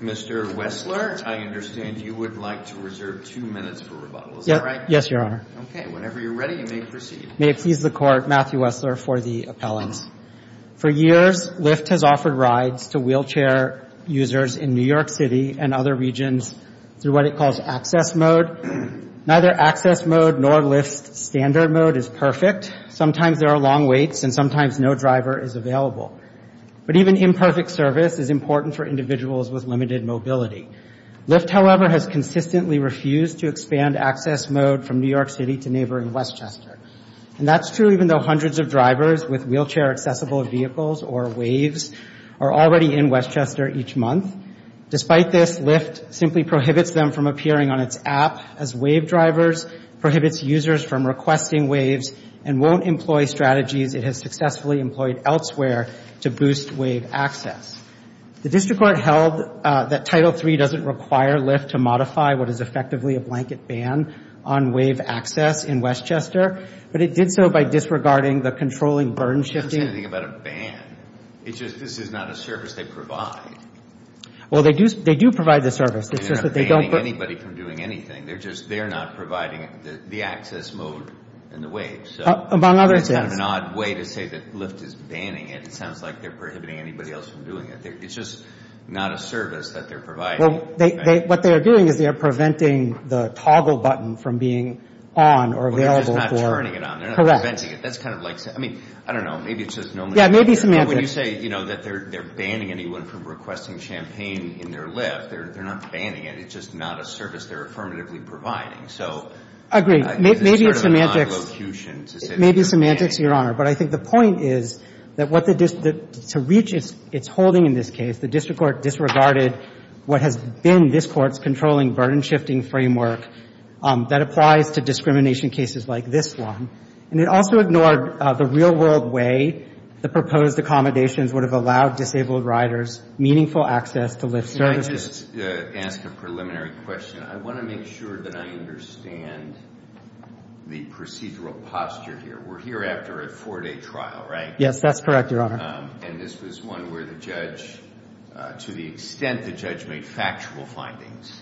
Mr. Wessler, I understand you would like to reserve 2 minutes for rebuttal, is that right? Yes, Your Honor. Okay. Whenever you're ready, you may proceed. May it please the Court, Matthew Wessler for the appellant. For years, Lyft has offered rides to wheelchair users in New York City and other regions through what it calls access mode. Neither access mode nor Lyft's standard mode is perfect. Sometimes there are long waits and sometimes no driver is available. But even imperfect service is important for individuals with limited mobility. Lyft, however, has consistently refused to expand access mode from New York City to neighboring Westchester. And that's true even though hundreds of drivers with wheelchair-accessible vehicles, or WAVEs, are already in Westchester each month. Despite this, Lyft simply prohibits them from appearing on its app as WAVE drivers, prohibits users from requesting WAVEs, and won't employ strategies it has successfully employed elsewhere to boost WAVE access. The district court held that Title III doesn't require Lyft to modify what is effectively a blanket ban on WAVE access in Westchester. But it did so by disregarding the controlling burden shifting. I don't understand anything about a ban. It's just this is not a service they provide. Well, they do provide the service. It's just that they don't. They're not banning anybody from doing anything. They're just, they're not providing the access mode and the WAVEs. Among others, yes. That's kind of an odd way to say that Lyft is banning it. It sounds like they're prohibiting anybody else from doing it. It's just not a service that they're providing. Well, what they are doing is they are preventing the toggle button from being on or available for. Well, they're just not turning it on. Correct. They're not preventing it. That's kind of like, I mean, I don't know. Maybe it's just nominally. Yeah, maybe semantics. But when you say, you know, that they're banning anyone from requesting champagne in their Lyft, they're not banning it. It's just not a service they're affirmatively providing. So. I agree. Maybe it's semantics. Maybe semantics, Your Honor. But I think the point is that what the district, to reach its holding in this case, the district court disregarded what has been this Court's controlling burden-shifting framework that applies to discrimination cases like this one. And it also ignored the real-world way the proposed accommodations would have allowed disabled riders meaningful access to Lyft services. Let me just ask a preliminary question. I want to make sure that I understand the procedural posture here. We're here after a four-day trial, right? Yes, that's correct, Your Honor. And this was one where the judge, to the extent the judge made factual findings,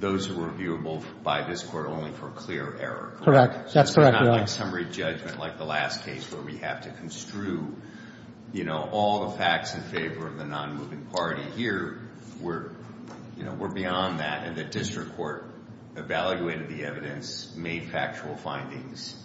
those were viewable by this Court only for clear error. Correct. That's correct, Your Honor. So it's not a summary judgment like the last case where we have to construe, you know, all the facts in favor of the non-moving party here were, you know, were beyond that, and the district court evaluated the evidence, made factual findings,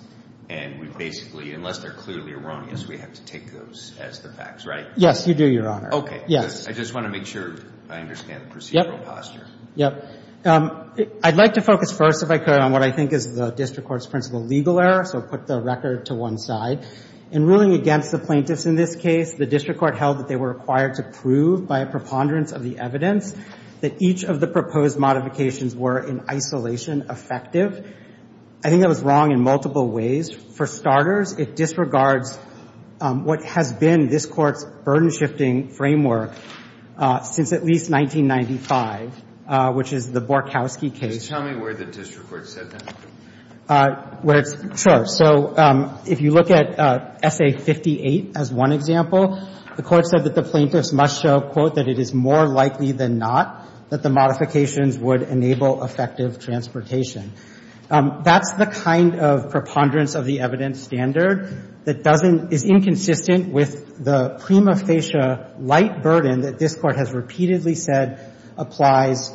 and we basically, unless they're clearly erroneous, we have to take those as the facts, right? Yes, you do, Your Honor. Okay. Yes. I just want to make sure I understand the procedural posture. Yep. Yep. I'd like to focus first, if I could, on what I think is the district court's principal legal error. So I'll put the record to one side. In ruling against the plaintiffs in this case, the district court held that they were required to prove by a preponderance of the evidence that each of the proposed modifications were in isolation effective. I think that was wrong in multiple ways. For starters, it disregards what has been this Court's burden-shifting framework since at least 1995, which is the Borkowski case. Can you tell me where the district court said that? Where it's – sure. So if you look at S.A. 58 as one example, the court said that the plaintiffs must show, quote, that it is more likely than not that the modifications would enable effective transportation. That's the kind of preponderance of the evidence standard that doesn't – is inconsistent with the prima facie light burden that this Court has repeatedly said applies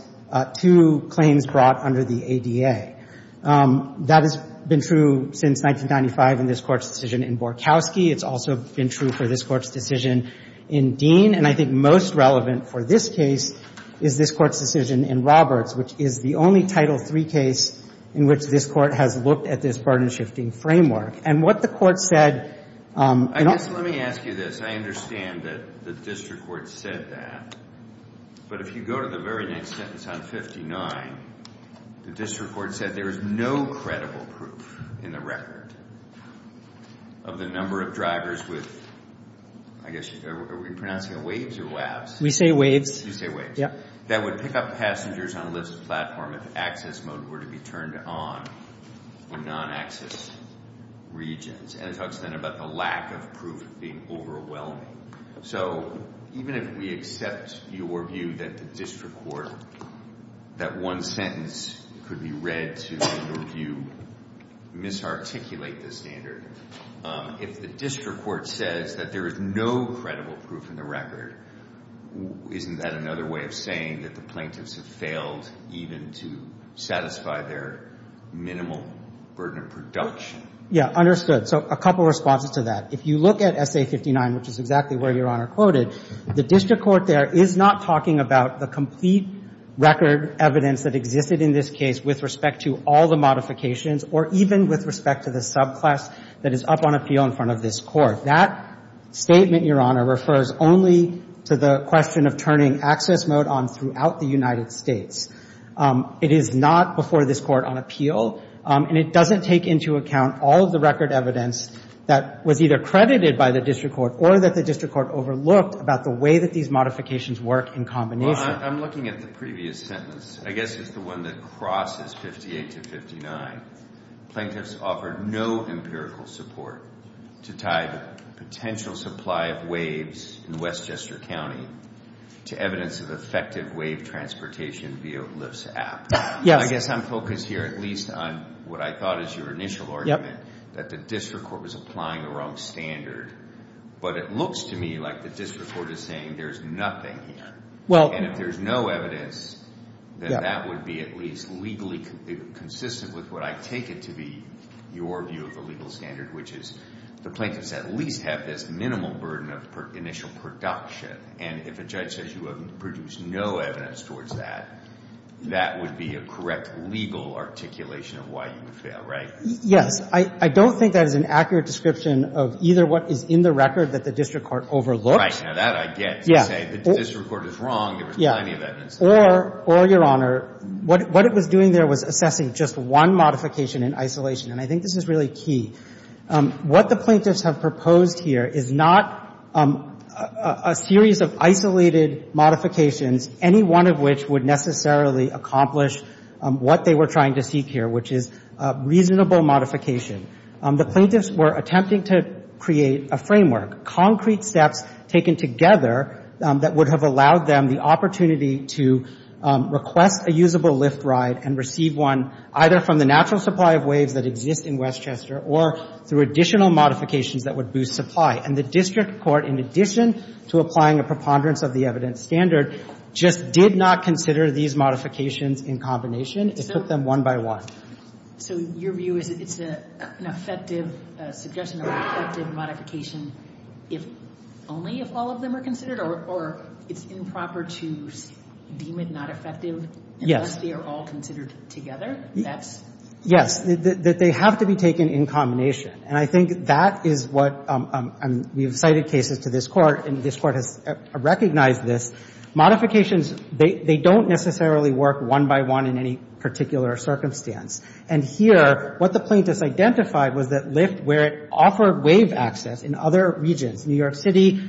to claims brought under the ADA. That has been true since 1995 in this Court's decision in Borkowski. It's also been true for this Court's decision in Dean. And I think most relevant for this case is this Court's decision in Roberts, which is the only Title III case in which this Court has looked at this burden-shifting framework. And what the Court said – I guess let me ask you this. I understand that the district court said that. But if you go to the very next sentence on 59, the district court said there is no credible proof in the record of the number of drivers with – I guess – are we pronouncing it waves or labs? We say waves. You say waves. Yeah. That would pick up passengers on a lift platform if access mode were to be turned on in non-access regions. And it talks then about the lack of proof being overwhelming. So even if we accept your view that the district court, that one sentence could be read to, in your view, misarticulate the standard, if the district court says that there is no credible proof in the record, isn't that another way of saying that the plaintiffs have failed even to satisfy their minimal burden of production? Yeah. Understood. So a couple of responses to that. If you look at Essay 59, which is exactly where Your Honor quoted, the district court there is not talking about the complete record evidence that existed in this case with respect to all the modifications or even with respect to the subclass that is up on appeal in front of this Court. That statement, Your Honor, refers only to the question of turning access mode on throughout the United States. It is not before this Court on appeal. And it doesn't take into account all of the record evidence that was either credited by the district court or that the district court overlooked about the way that these modifications work in combination. Well, I'm looking at the previous sentence. I guess it's the one that crosses 58 to 59. Plaintiffs offered no empirical support to tie the potential supply of waves in Westchester County to evidence of effective wave transportation via Lyft's app. Yes. Well, I guess I'm focused here at least on what I thought is your initial argument, that the district court was applying the wrong standard. But it looks to me like the district court is saying there's nothing here. And if there's no evidence, then that would be at least legally consistent with what I take it to be your view of the legal standard, which is the plaintiffs at least have this minimal burden of initial production. And if a judge says you have produced no evidence towards that, that would be a correct legal articulation of why you would fail, right? Yes. I don't think that is an accurate description of either what is in the record that the district court overlooked. Right. Now, that I get. Yeah. To say the district court is wrong, there was plenty of evidence there. Or, Your Honor, what it was doing there was assessing just one modification in isolation. And I think this is really key. What the plaintiffs have proposed here is not a series of isolated modifications, any one of which would necessarily accomplish what they were trying to seek here, which is reasonable modification. The plaintiffs were attempting to create a framework, concrete steps taken together that would have allowed them the opportunity to request a usable lift ride and receive one either from the natural supply of waves that exist in Westchester or through additional modifications that would boost supply. And the district court, in addition to applying a preponderance of the evidence standard, just did not consider these modifications in combination. It took them one by one. So your view is that it's an effective suggestion of effective modification only if all of them are considered? Or it's improper to deem it not effective unless they are all considered together? Yes. They have to be taken in combination. And I think that is what we've cited cases to this court, and this court has recognized this. Modifications, they don't necessarily work one by one in any particular circumstance. And here, what the plaintiffs identified was that lift, where it offered wave access in other regions, New York City,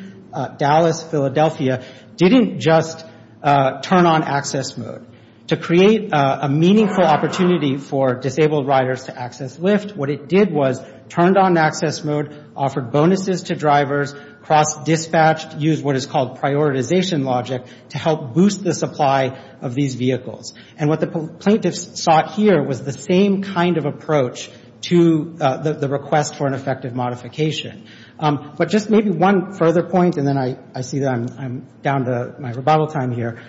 Dallas, Philadelphia, didn't just turn on access mode. To create a meaningful opportunity for disabled riders to access lift, what it did was turned on access mode, offered bonuses to drivers, cross-dispatched, used what is called prioritization logic to help boost the supply of these vehicles. And what the plaintiffs sought here was the same kind of approach to the request for an effective modification. But just maybe one further point, and then I see that I'm down to my rebuttal time here.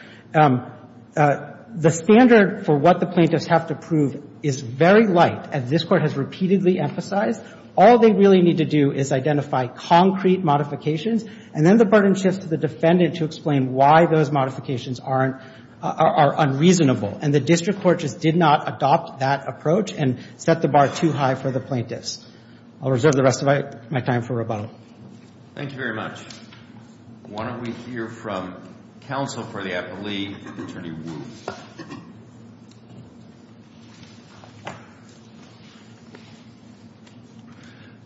The standard for what the plaintiffs have to prove is very light. As this court has repeatedly emphasized, all they really need to do is identify concrete modifications, and then the burden shifts to the defendant to explain why those modifications are unreasonable. And the district court just did not adopt that approach and set the bar too high for the plaintiffs. I'll reserve the rest of my time for rebuttal. Thank you very much. Why don't we hear from counsel for the appellee, Attorney Wu.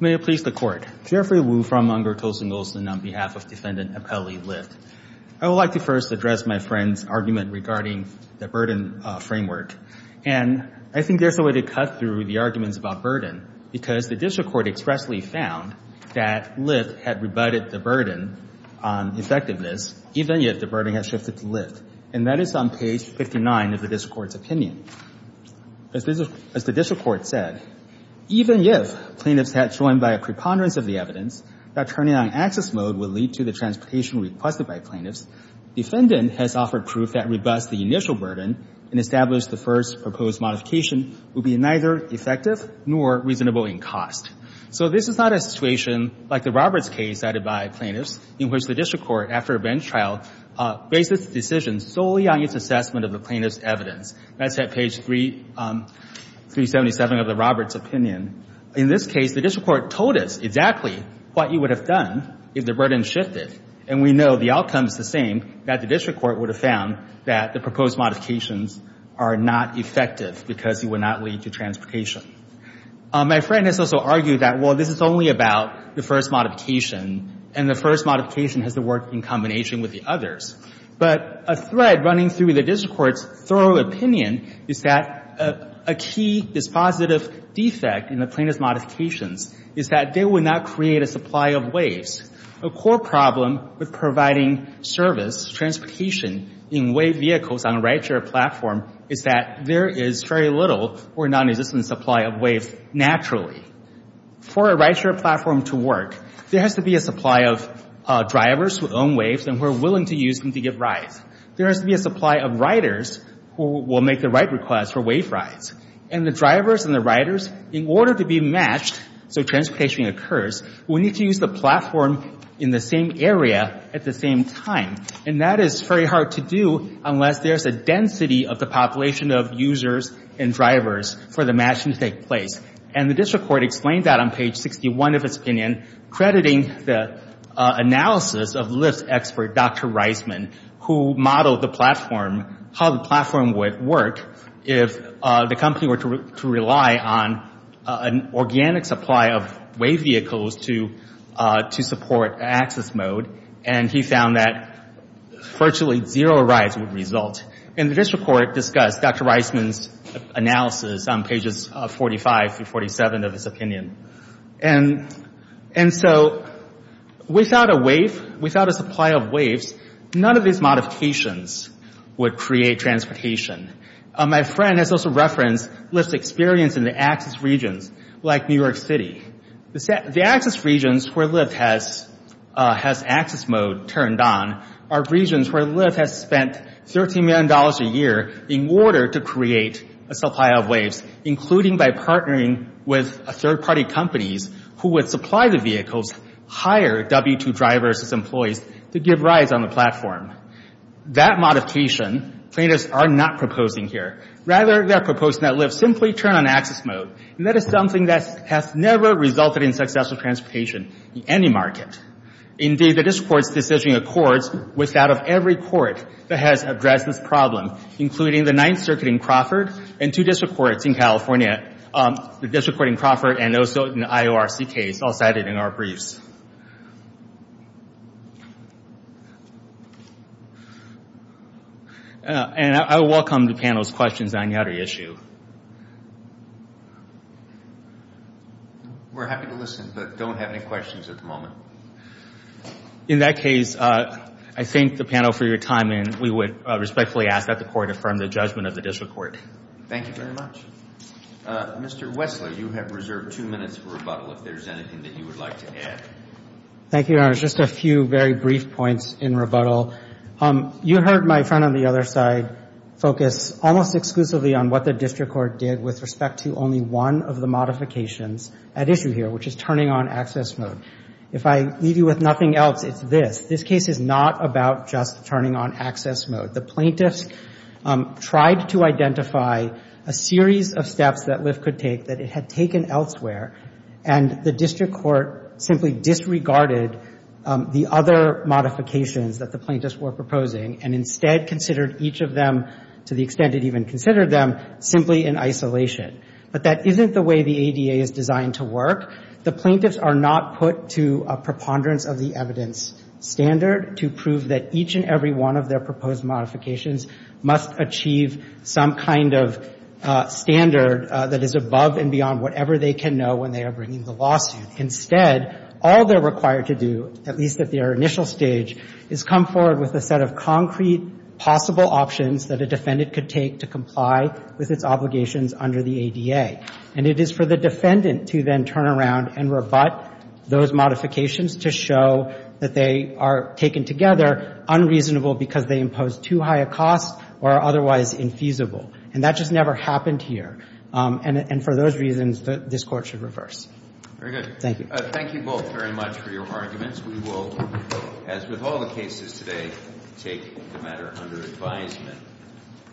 May it please the Court. Jeffrey Wu from Unger, Tulsa and Nolson on behalf of Defendant Appellee Lift. I would like to first address my friend's argument regarding the burden framework. And I think there's a way to cut through the arguments about burden, because the district court expressly found that lift had rebutted the burden on effectiveness, even if the burden had shifted to lift. And that is on page 59 of the district court's opinion. As the district court said, even if plaintiffs had joined by a preponderance of the evidence that turning on access mode would lead to the transportation requested by plaintiffs, defendant has offered proof that rebuts the initial burden and established the first proposed modification would be neither effective nor reasonable in cost. So this is not a situation like the Roberts case cited by plaintiffs in which the district court, after a bench trial, based its decision solely on its assessment of the plaintiff's evidence. That's at page 377 of the Roberts opinion. In this case, the district court told us exactly what you would have done if the burden shifted. And we know the outcome is the same, that the district court would have found that the proposed modifications are not effective because it would not lead to transportation. My friend has also argued that, well, this is only about the first modification, and the first modification has to work in combination with the others. But a thread running through the district court's thorough opinion is that a key dispositive defect in the plaintiff's modifications is that they would not create a supply of waves. A core problem with providing service, transportation, in wave vehicles on a ride-share platform is that there is very little or nonexistent supply of waves naturally. For a ride-share platform to work, there has to be a supply of drivers who own waves and who are willing to use them to get rides. There has to be a supply of riders who will make the right request for wave rides. And the drivers and the riders, in order to be matched so transportation occurs, will need to use the platform in the same area at the same time. And that is very hard to do unless there's a density of the population of users and drivers for the matching to take place. And the district court explained that on page 61 of its opinion, crediting the analysis of lift expert Dr. Reisman, who modeled the platform, how the platform would work, if the company were to rely on an organic supply of wave vehicles to support access mode. And he found that virtually zero rides would result. And the district court discussed Dr. Reisman's analysis on pages 45 through 47 of his opinion. And so without a wave, without a supply of waves, none of these modifications would create transportation. My friend has also referenced lift's experience in the access regions like New York City. The access regions where lift has access mode turned on are regions where lift has spent $13 million a year in order to create a supply of waves, including by partnering with third-party companies who would supply the vehicles, hire W2 drivers as employees to give rides on the platform. That modification plaintiffs are not proposing here. Rather, they're proposing that lift simply turn on access mode. And that is something that has never resulted in successful transportation in any market. Indeed, the district court's decision accords with that of every court that has addressed this problem, including the Ninth Circuit in Crawford and two district courts in California, the district court in Crawford and also in the IORC case all cited in our briefs. And I welcome the panel's questions on the other issue. We're happy to listen, but don't have any questions at the moment. In that case, I thank the panel for your time, and we would respectfully ask that the court affirm the judgment of the district court. Thank you very much. Mr. Wessler, you have reserved two minutes for rebuttal if there's anything that you would like to add. Thank you, Your Honor. Just a few very brief points in rebuttal. You heard my friend on the other side focus almost exclusively on what the district court did with respect to only one of the modifications at issue here, which is turning on access mode. If I leave you with nothing else, it's this. This case is not about just turning on access mode. The plaintiffs tried to identify a series of steps that lift could take that it had taken elsewhere, and the district court simply disregarded the other modifications that the plaintiffs were proposing and instead considered each of them, to the extent it even considered them, simply in isolation. But that isn't the way the ADA is designed to work. The plaintiffs are not put to a preponderance of the evidence standard to prove that each and every one of their proposed modifications must achieve some kind of standard that is above and beyond whatever they can know when they are bringing the lawsuit. Instead, all they're required to do, at least at their initial stage, is come forward with a set of concrete possible options that a defendant could take to comply with its obligations under the ADA. And it is for the defendant to then turn around and rebut those modifications to show that they are taken together unreasonable because they impose too high a cost or are otherwise infeasible. And that just never happened here. And for those reasons, this Court should reverse. Thank you. Thank you both very much for your arguments. We will, as with all the cases today, take the matter under advisement.